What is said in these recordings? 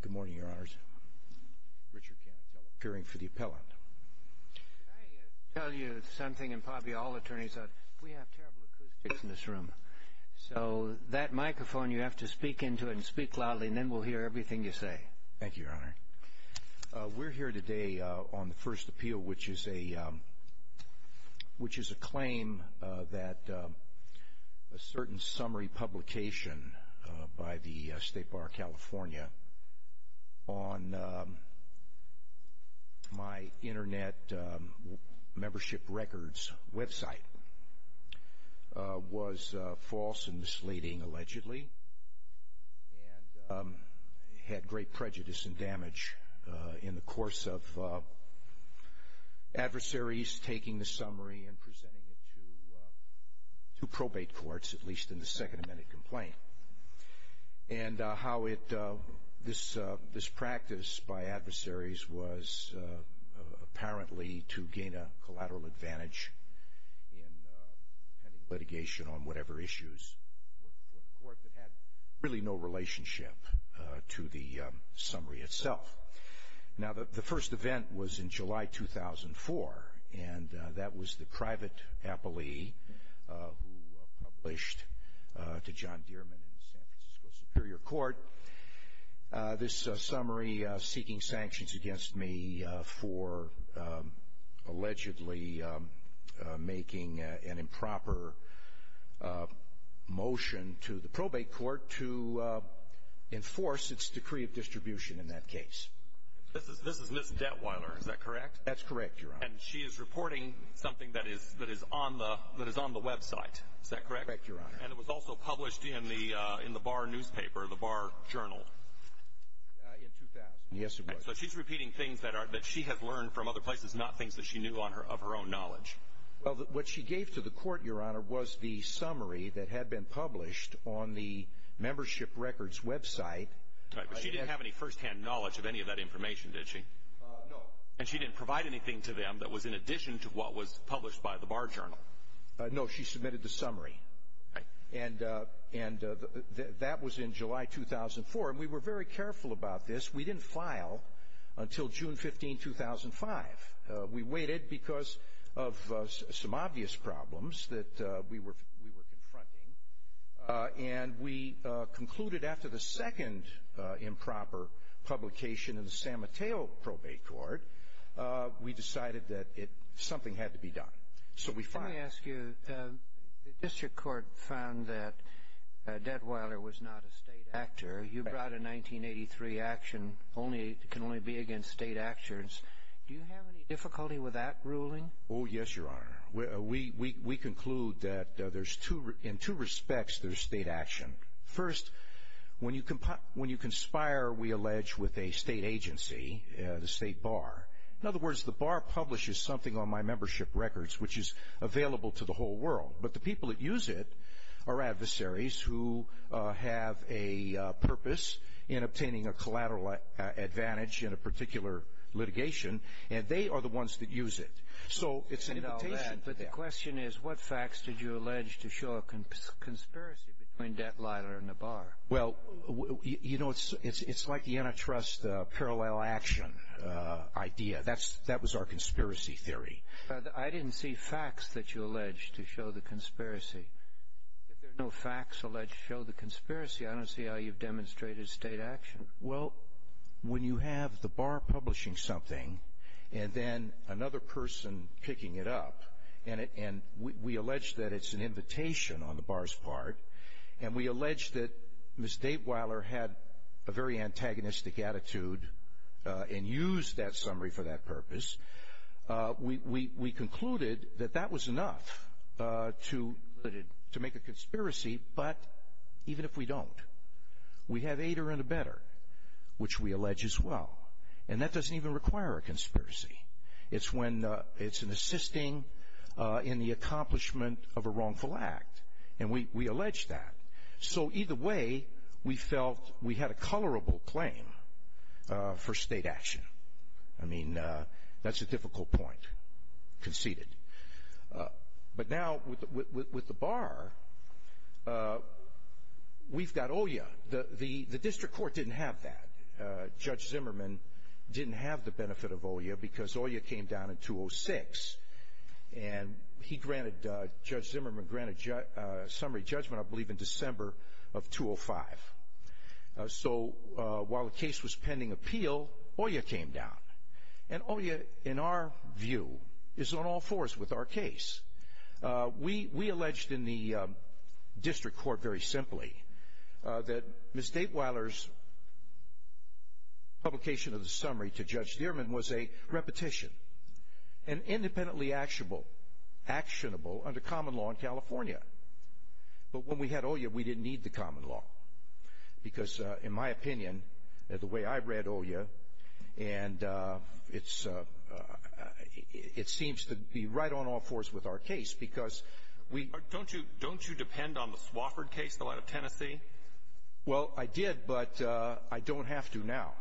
Good morning, Your Honors. Richard Canatella, appearing for the appellant. Can I tell you something, and probably all attorneys, we have terrible acoustics in this room. So that microphone, you have to speak into it and speak loudly, and then we'll hear everything you say. Thank you, Your Honor. We're here today on the first appeal, which is a claim that a certain summary publication by the State Bar of California on my internet membership records website was false and misleading, allegedly, and had great prejudice and damage in the course of adversaries taking the summary and presenting it to probate courts, at least in the second amended complaint. And how this practice by adversaries was apparently to gain a collateral advantage in litigation on whatever issues were before the court that had really no relationship to the summary itself. Now, the first event was in July 2004, and that was the private appellee who published to John Dearman in the San Francisco Superior Court this summary seeking sanctions against me for allegedly making an improper motion to the probate court to enforce its decree of distribution in that case. This is Ms. Detweiler, is that correct? That's correct, Your Honor. And she is reporting something that is on the website, is that correct? Correct, Your Honor. And it was also published in the bar newspaper, the bar journal. In 2000. Yes, it was. So she's repeating things that she has learned from other places, not things that she knew of her own knowledge. Well, what she gave to the court, Your Honor, was the summary that had been published on the membership records website. Right, but she didn't have any firsthand knowledge of any of that information, did she? No. And she didn't provide anything to them that was in addition to what was published by the bar journal? No, she submitted the summary. Right. And that was in July 2004. And we were very careful about this. We didn't file until June 15, 2005. We waited because of some obvious problems that we were confronting. And we concluded after the second improper publication in the Sam Mateo Probate Court, we decided that something had to be done. So we filed. Let me ask you, the district court found that Detweiler was not a state actor. You brought a 1983 action that can only be against state actors. Do you have any difficulty with that ruling? Oh, yes, Your Honor. We conclude that in two respects there's state action. First, when you conspire, we allege, with a state agency, the state bar. In other words, the bar publishes something on my membership records which is available to the whole world. But the people that use it are adversaries who have a purpose in obtaining a collateral advantage in a particular litigation. And they are the ones that use it. So it's an invitation. But the question is, what facts did you allege to show a conspiracy between Detweiler and the bar? Well, you know, it's like the antitrust parallel action idea. That was our conspiracy theory. I didn't see facts that you alleged to show the conspiracy. If there are no facts alleged to show the conspiracy, I don't see how you've demonstrated state action. Well, when you have the bar publishing something and then another person picking it up, and we allege that it's an invitation on the bar's part, and we allege that Ms. Detweiler had a very antagonistic attitude and used that summary for that purpose, we concluded that that was enough to make a conspiracy. But even if we don't, we have aider and abetter, which we allege as well. And that doesn't even require a conspiracy. It's when it's an assisting in the accomplishment of a wrongful act. And we allege that. So either way, we felt we had a colorable claim for state action. I mean, that's a difficult point. Conceded. But now with the bar, we've got OIA. The district court didn't have that. Judge Zimmerman didn't have the benefit of OIA because OIA came down in 2006, and Judge Zimmerman granted summary judgment, I believe, in December of 2005. So while the case was pending appeal, OIA came down. And OIA, in our view, is on all fours with our case. We alleged in the district court very simply that Ms. Detweiler's publication of the summary to Judge Zimmerman was a repetition and independently actionable under common law in California. But when we had OIA, we didn't need the common law because, in my opinion, the way I read OIA, and it seems to be right on all fours with our case because we — Don't you depend on the Swofford case, the one out of Tennessee? Well, I did, but I don't have to now.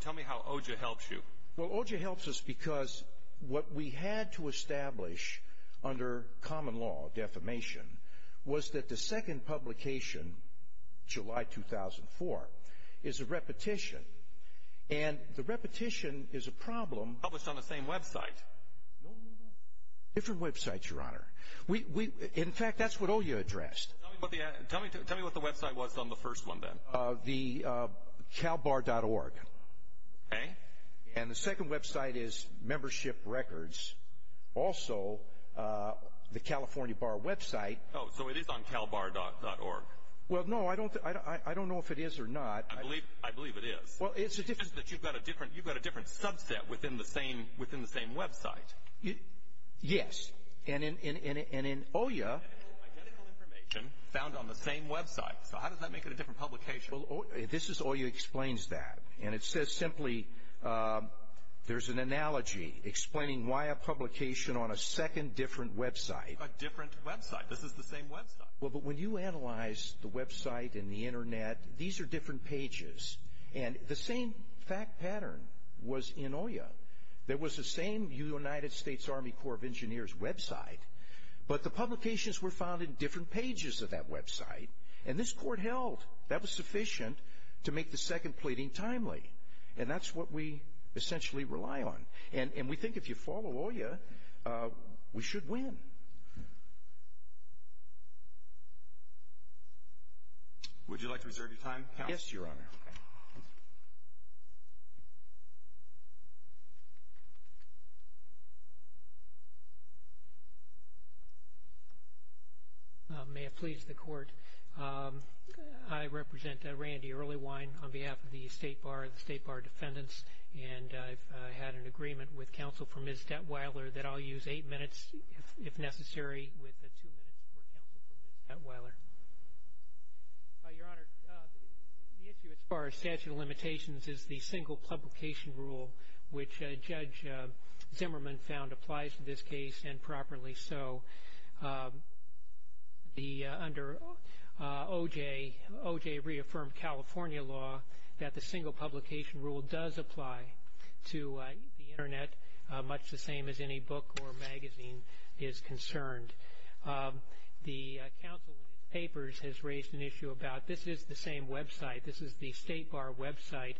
Tell me how OJA helps you. Well, OJA helps us because what we had to establish under common law, defamation, was that the second publication, July 2004, is a repetition. And the repetition is a problem. Published on the same website. Different websites, Your Honor. In fact, that's what OIA addressed. Tell me what the website was on the first one, then. The CalBar.org. Okay. And the second website is Membership Records. Also, the California Bar website. Oh, so it is on CalBar.org. Well, no, I don't know if it is or not. I believe it is. Well, it's a different — It's just that you've got a different subset within the same website. Yes. And in OIA — Identical information found on the same website. So how does that make it a different publication? Well, this is OIA explains that. And it says simply, there's an analogy explaining why a publication on a second different website — A different website. This is the same website. Well, but when you analyze the website and the Internet, these are different pages. And the same fact pattern was in OIA. There was the same United States Army Corps of Engineers website, but the publications were found in different pages of that website. And this court held. That was sufficient to make the second pleading timely. And that's what we essentially rely on. And we think if you follow OIA, we should win. Would you like to reserve your time? Yes, Your Honor. Thank you, Your Honor. May it please the Court. I represent Randy Earlywine on behalf of the State Bar, the State Bar defendants. And I've had an agreement with counsel for Ms. Detweiler that I'll use eight minutes, if necessary, with two minutes for counsel for Ms. Detweiler. Your Honor, the issue as far as statute of limitations is the single publication rule, which Judge Zimmerman found applies to this case, and properly so. Under OJ, OJ reaffirmed California law that the single publication rule does apply to the Internet, much the same as any book or magazine is concerned. The counsel in his papers has raised an issue about this is the same website. This is the State Bar website.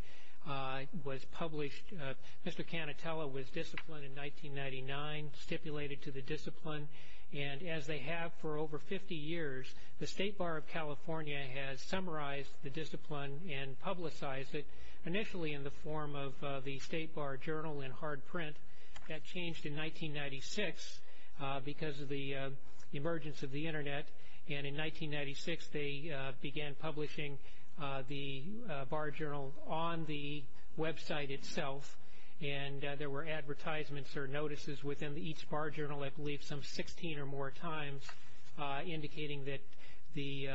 It was published. Mr. Canatella was disciplined in 1999, stipulated to the discipline. And as they have for over 50 years, the State Bar of California has summarized the discipline and publicized it initially in the form of the State Bar Journal in hard print. That changed in 1996 because of the emergence of the Internet. And in 1996, they began publishing the Bar Journal on the website itself. And there were advertisements or notices within each Bar Journal, I believe, some 16 or more times, indicating that the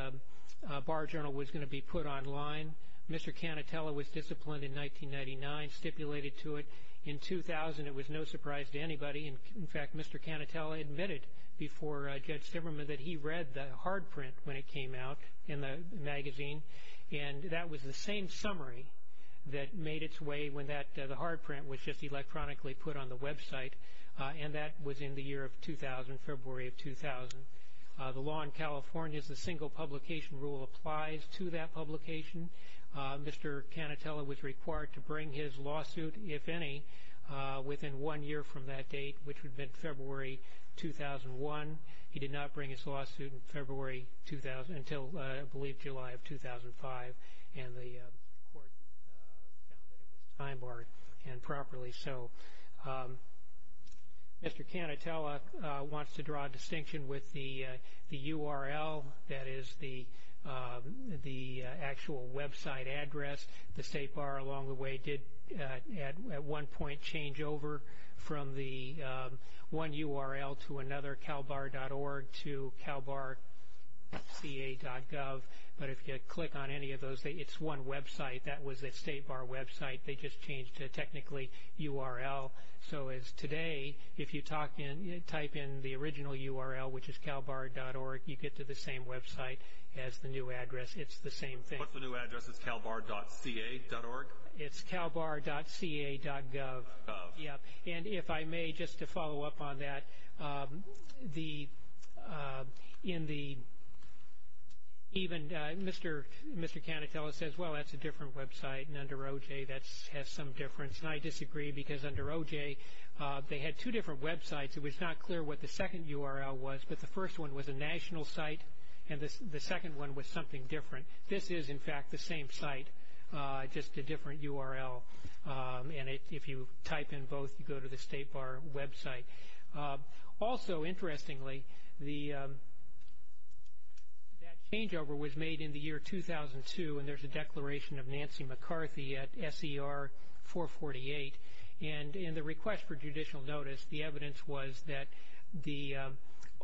Bar Journal was going to be put online. Mr. Canatella was disciplined in 1999, stipulated to it. In 2000, it was no surprise to anybody. In fact, Mr. Canatella admitted before Judge Zimmerman that he read the hard print when it came out in the magazine. And that was the same summary that made its way when the hard print was just electronically put on the website, and that was in the year of 2000, February of 2000. The law in California is the single publication rule applies to that publication. Mr. Canatella was required to bring his lawsuit, if any, within one year from that date, which would have been February 2001. He did not bring his lawsuit in February 2000 until, I believe, July of 2005, and the court found that it was time-barred and properly so. Mr. Canatella wants to draw a distinction with the URL, that is, the actual website address. The State Bar along the way did at one point change over from the one URL to another, calbar.org, to calbarca.gov. But if you click on any of those, it's one website. That was the State Bar website. They just changed to technically URL. So as today, if you type in the original URL, which is calbar.org, you get to the same website as the new address. It's the same thing. What's the new address? It's calbar.ca.org? It's calbar.ca.gov. And if I may, just to follow up on that, even Mr. Canatella says, well, that's a different website, and under OJ that has some difference. And I disagree because under OJ they had two different websites. It was not clear what the second URL was, but the first one was a national site, and the second one was something different. This is, in fact, the same site, just a different URL. And if you type in both, you go to the State Bar website. Also, interestingly, that changeover was made in the year 2002, and there's a declaration of Nancy McCarthy at SER 448. And in the request for judicial notice, the evidence was that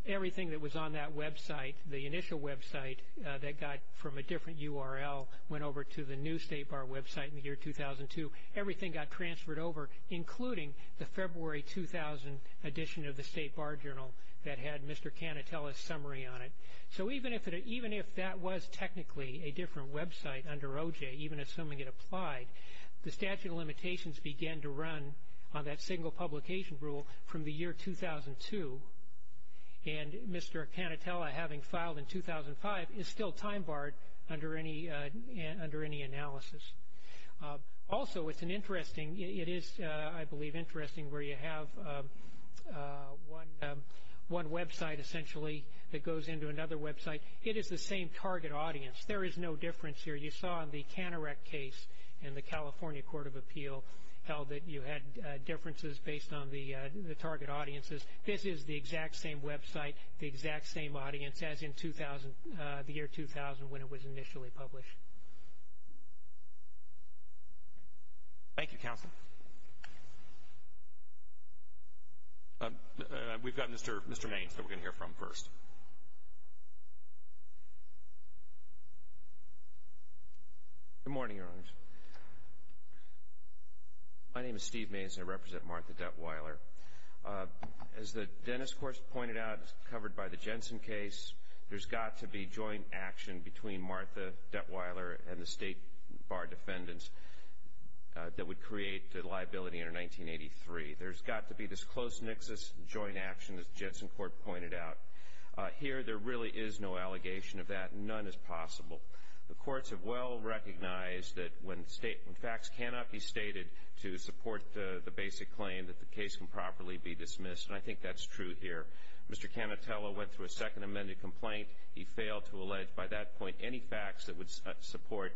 everything that was on that website, the initial website that got from a different URL went over to the new State Bar website in the year 2002. Everything got transferred over, including the February 2000 edition of the State Bar Journal that had Mr. Canatella's summary on it. So even if that was technically a different website under OJ, even assuming it applied, the statute of limitations began to run on that single publication rule from the year 2002. And Mr. Canatella, having filed in 2005, is still time barred under any analysis. Also, it is, I believe, interesting where you have one website, essentially, that goes into another website. It is the same target audience. There is no difference here. You saw in the Canerec case in the California Court of Appeal how you had differences based on the target audiences. This is the exact same website, the exact same audience as in the year 2000 when it was initially published. Thank you, counsel. We've got Mr. Maynes that we're going to hear from first. Good morning, Your Honors. My name is Steve Maynes, and I represent Martha Detweiler. As the Dennis Court pointed out, covered by the Jensen case, there's got to be joint action between Martha Detweiler and the State Bar defendants that would create the liability under 1983. There's got to be this close nixus joint action, as the Jensen Court pointed out. Here, there really is no allegation of that. None is possible. The courts have well recognized that when facts cannot be stated to support the basic claim, that the case can properly be dismissed, and I think that's true here. Mr. Canatella went through a second amended complaint. He failed to allege by that point any facts that would support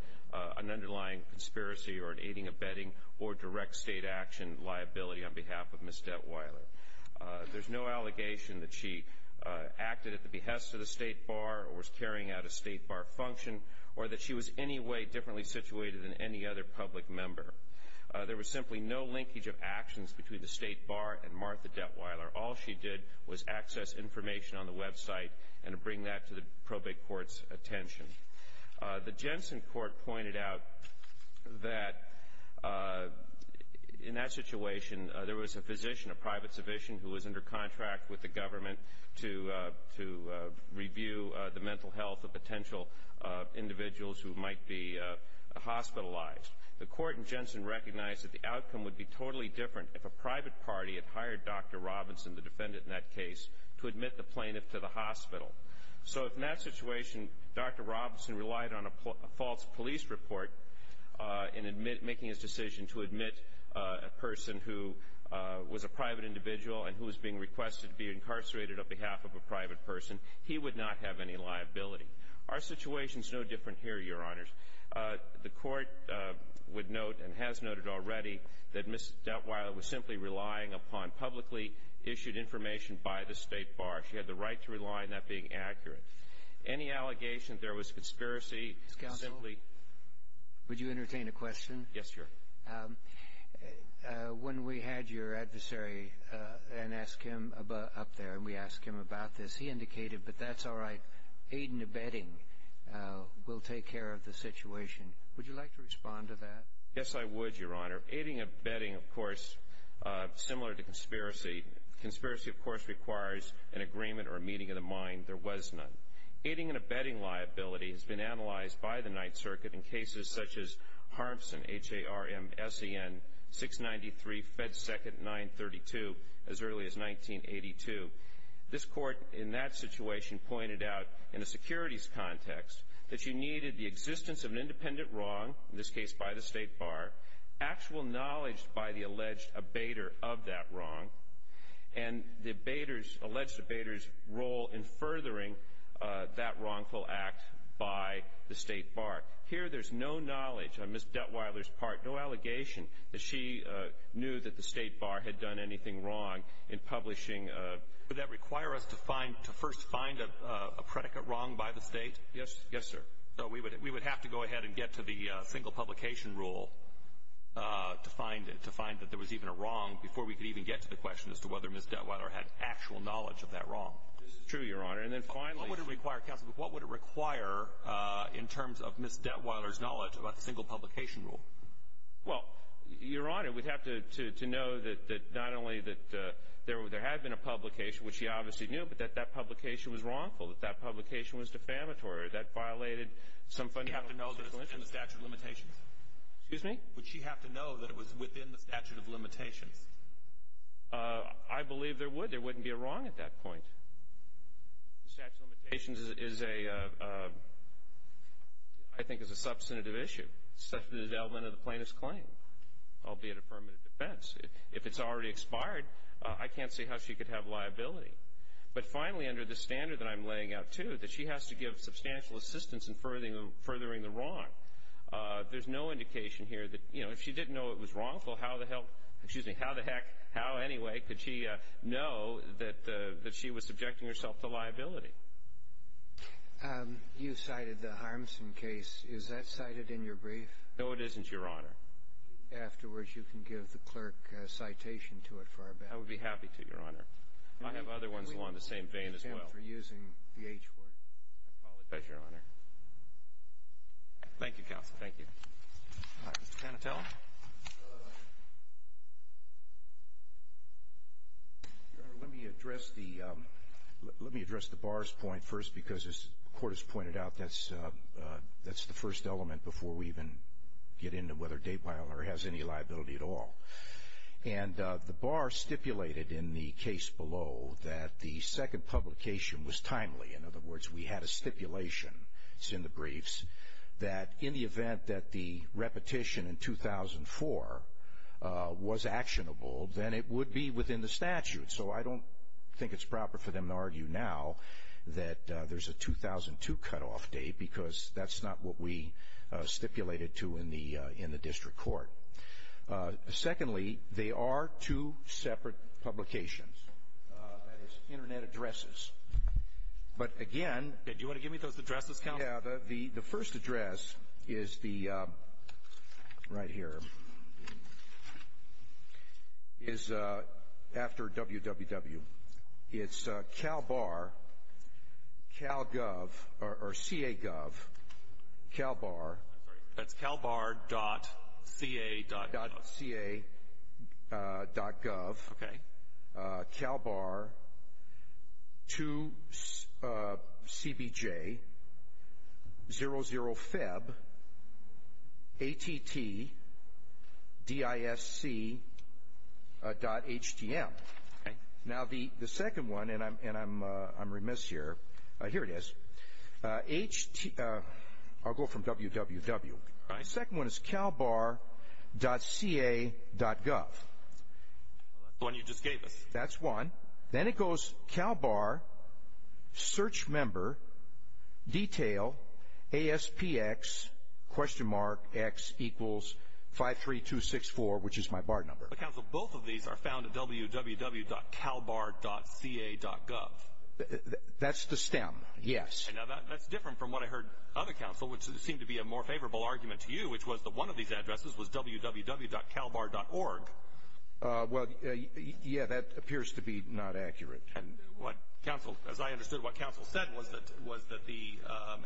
an underlying conspiracy or an aiding, abetting, or direct state action liability on behalf of Ms. Detweiler. There's no allegation that she acted at the behest of the State Bar or was carrying out a State Bar function, or that she was in any way differently situated than any other public member. There was simply no linkage of actions between the State Bar and Martha Detweiler. All she did was access information on the website and bring that to the probate court's attention. The Jensen Court pointed out that in that situation, there was a physician, a private physician, who was under contract with the government to review the mental health of potential individuals who might be hospitalized. The court in Jensen recognized that the outcome would be totally different if a private party had hired Dr. Robinson, the defendant in that case, to admit the plaintiff to the hospital. So in that situation, Dr. Robinson relied on a false police report in making his decision to admit a person who was a private individual and who was being requested to be incarcerated on behalf of a private person. He would not have any liability. Our situation is no different here, Your Honors. The court would note, and has noted already, that Ms. Detweiler was simply relying upon publicly issued information by the State Bar. She had the right to rely on that being accurate. Any allegation there was conspiracy simply… May I entertain a question? Yes, Your Honor. When we had your adversary up there and we asked him about this, he indicated, but that's all right, aid and abetting will take care of the situation. Would you like to respond to that? Yes, I would, Your Honor. Aiding and abetting, of course, similar to conspiracy. Conspiracy, of course, requires an agreement or a meeting of the mind. There was none. Aiding and abetting liability has been analyzed by the Ninth Circuit in cases such as Harmsen, H-A-R-M-S-E-N, 693, Fed Second, 932, as early as 1982. This court, in that situation, pointed out, in a securities context, that you needed the existence of an independent wrong, in this case by the State Bar, actual knowledge by the alleged abater of that wrong, and the abater's, alleged abater's role in furthering that wrongful act by the State Bar. Here there's no knowledge on Ms. Dettweiler's part, no allegation that she knew that the State Bar had done anything wrong in publishing… Would that require us to first find a predicate wrong by the State? Yes, sir. So we would have to go ahead and get to the single publication rule to find that there was even a wrong before we could even get to the question as to whether Ms. Dettweiler had actual knowledge of that wrong. This is true, Your Honor. And then finally… What would it require, counsel? What would it require in terms of Ms. Dettweiler's knowledge about the single publication rule? Well, Your Honor, we'd have to know that not only that there had been a publication, which she obviously knew, but that that publication was wrongful, that that publication was defamatory, that violated some fundamental… You'd have to know that it's within the statute of limitations. Excuse me? Would she have to know that it was within the statute of limitations? I believe there would. There wouldn't be a wrong at that point. The statute of limitations is, I think, a substantive issue, such as the development of the plaintiff's claim, albeit a permanent defense. If it's already expired, I can't see how she could have liability. But finally, under the standard that I'm laying out, too, that she has to give substantial assistance in furthering the wrong, there's no indication here that, you know, if she didn't know it was wrongful, how the heck, how anyway could she know that she was subjecting herself to liability? You cited the Harmson case. Is that cited in your brief? No, it isn't, Your Honor. Afterwards, you can give the clerk a citation to it for our benefit. I would be happy to, Your Honor. I have other ones along the same vein as well. I apologize, Your Honor. Thank you, counsel. Thank you. All right. Mr. Panatella. Your Honor, let me address the bar's point first because, as the Court has pointed out, that's the first element before we even get into whether Daypiler has any liability at all. And the bar stipulated in the case below that the second publication was timely. In other words, we had a stipulation. It's in the briefs that in the event that the repetition in 2004 was actionable, then it would be within the statute. So I don't think it's proper for them to argue now that there's a 2002 cutoff date because that's not what we stipulated to in the district court. Secondly, they are two separate publications. That is, Internet addresses. But again... Do you want to give me those addresses, counsel? Yeah. The first address is the right here. It's after www. It's CalBar, CalGov, or CAGov, CalBar. That's CalBar.ca.gov. .ca.gov. Okay. CalBar2CBJ00FEBATTDISC.htm. Okay. Now the second one, and I'm remiss here. Here it is. I'll go from www. The second one is CalBar.ca.gov. That's the one you just gave us. That's one. Then it goes CalBar, search member, detail, ASPX, question mark, X equals 53264, which is my bar number. But, counsel, both of these are found at www.CalBar.ca.gov. That's the stem, yes. Now that's different from what I heard other counsel, which seemed to be a more favorable argument to you, which was that one of these addresses was www.CalBar.org. Well, yeah, that appears to be not accurate. And what counsel, as I understood what counsel said, was that the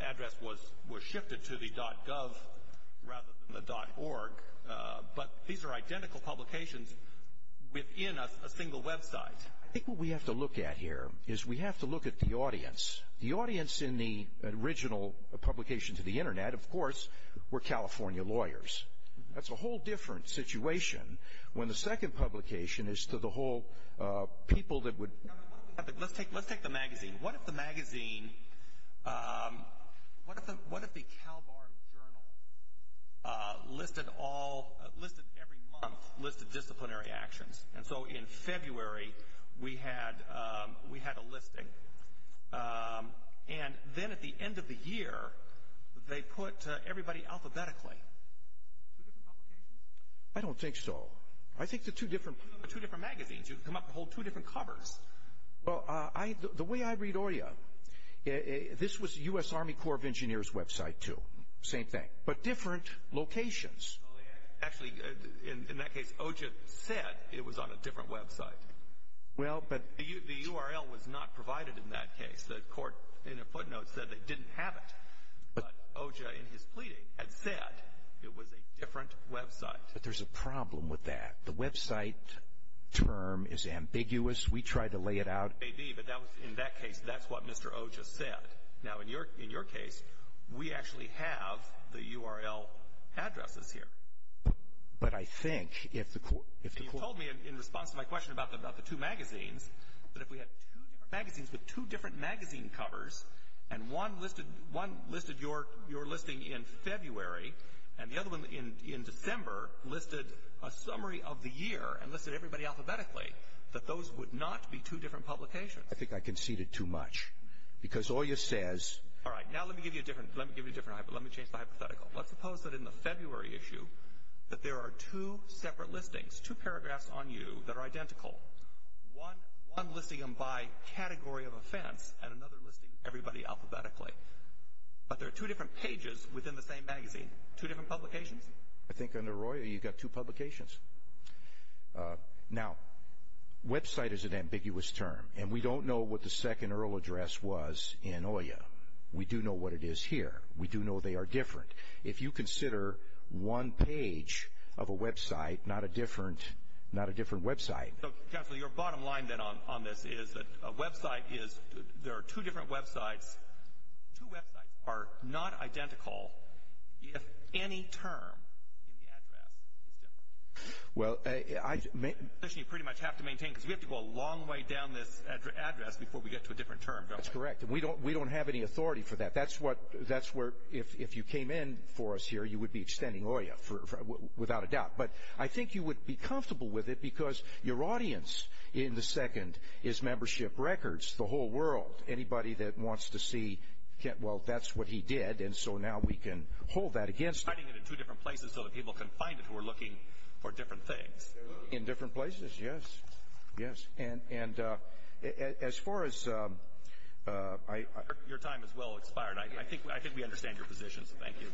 address was shifted to the .gov rather than the .org. But these are identical publications within a single website. I think what we have to look at here is we have to look at the audience. The audience in the original publication to the Internet, of course, were California lawyers. That's a whole different situation when the second publication is to the whole people that would... Let's take the magazine. What if the magazine, what if the CalBar Journal listed all, listed every month, listed disciplinary actions? And so in February we had a listing. And then at the end of the year they put everybody alphabetically. Two different publications? I don't think so. I think the two different... Two different magazines. You can come up and hold two different covers. Well, the way I read OJA, this was the U.S. Army Corps of Engineers website, too. Same thing. But different locations. Actually, in that case, OJA said it was on a different website. The URL was not provided in that case. The court in a footnote said they didn't have it. But OJA in his pleading had said it was a different website. But there's a problem with that. The website term is ambiguous. We tried to lay it out. It may be, but in that case that's what Mr. OJA said. Now, in your case, we actually have the URL addresses here. But I think if the court... You told me, in response to my question about the two magazines, that if we had two different magazines with two different magazine covers and one listed your listing in February and the other one in December listed a summary of the year and listed everybody alphabetically, that those would not be two different publications. I think I conceded too much because OJA says... All right. Now let me give you a different, let me change the hypothetical. Let's suppose that in the February issue that there are two separate listings, two paragraphs on you that are identical, one listing them by category of offense and another listing everybody alphabetically. But there are two different pages within the same magazine, two different publications? I think under OIA you've got two publications. Now, website is an ambiguous term. And we don't know what the second URL address was in OIA. We do know what it is here. We do know they are different. If you consider one page of a website, not a different website... Counselor, your bottom line then on this is that a website is... There are two different websites. Two websites are not identical if any term in the address is different. Well, I... You pretty much have to maintain because we have to go a long way down this address before we get to a different term, don't we? That's correct. And we don't have any authority for that. That's where if you came in for us here, you would be extending OIA without a doubt. But I think you would be comfortable with it because your audience in the second is membership records. The whole world, anybody that wants to see... well, that's what he did. And so now we can hold that against... You're finding it in two different places so that people can find it who are looking for different things. In different places, yes. Yes. And as far as... Your time has well expired. I think we understand your position, so thank you.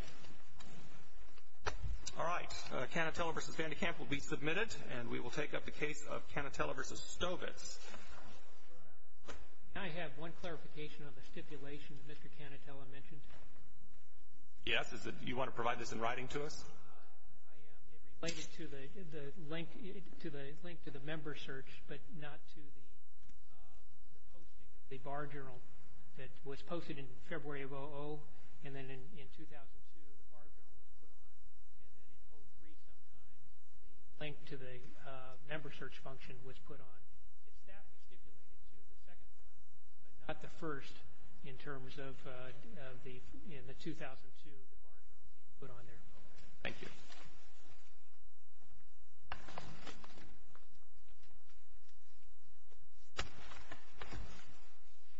All right. Canatella v. Vandekamp will be submitted, and we will take up the case of Canatella v. Stovitz. May I have one clarification on the stipulation that Mr. Canatella mentioned? Yes. Do you want to provide this in writing to us? It related to the link to the member search, but not to the posting of the bar journal that was posted in February of... and then in 2002 the bar journal was put on, and then in... the link to the member search function was put on. It's that stipulated to the second one, but not the first in terms of the... in the 2002, the bar journal being put on there. Thank you.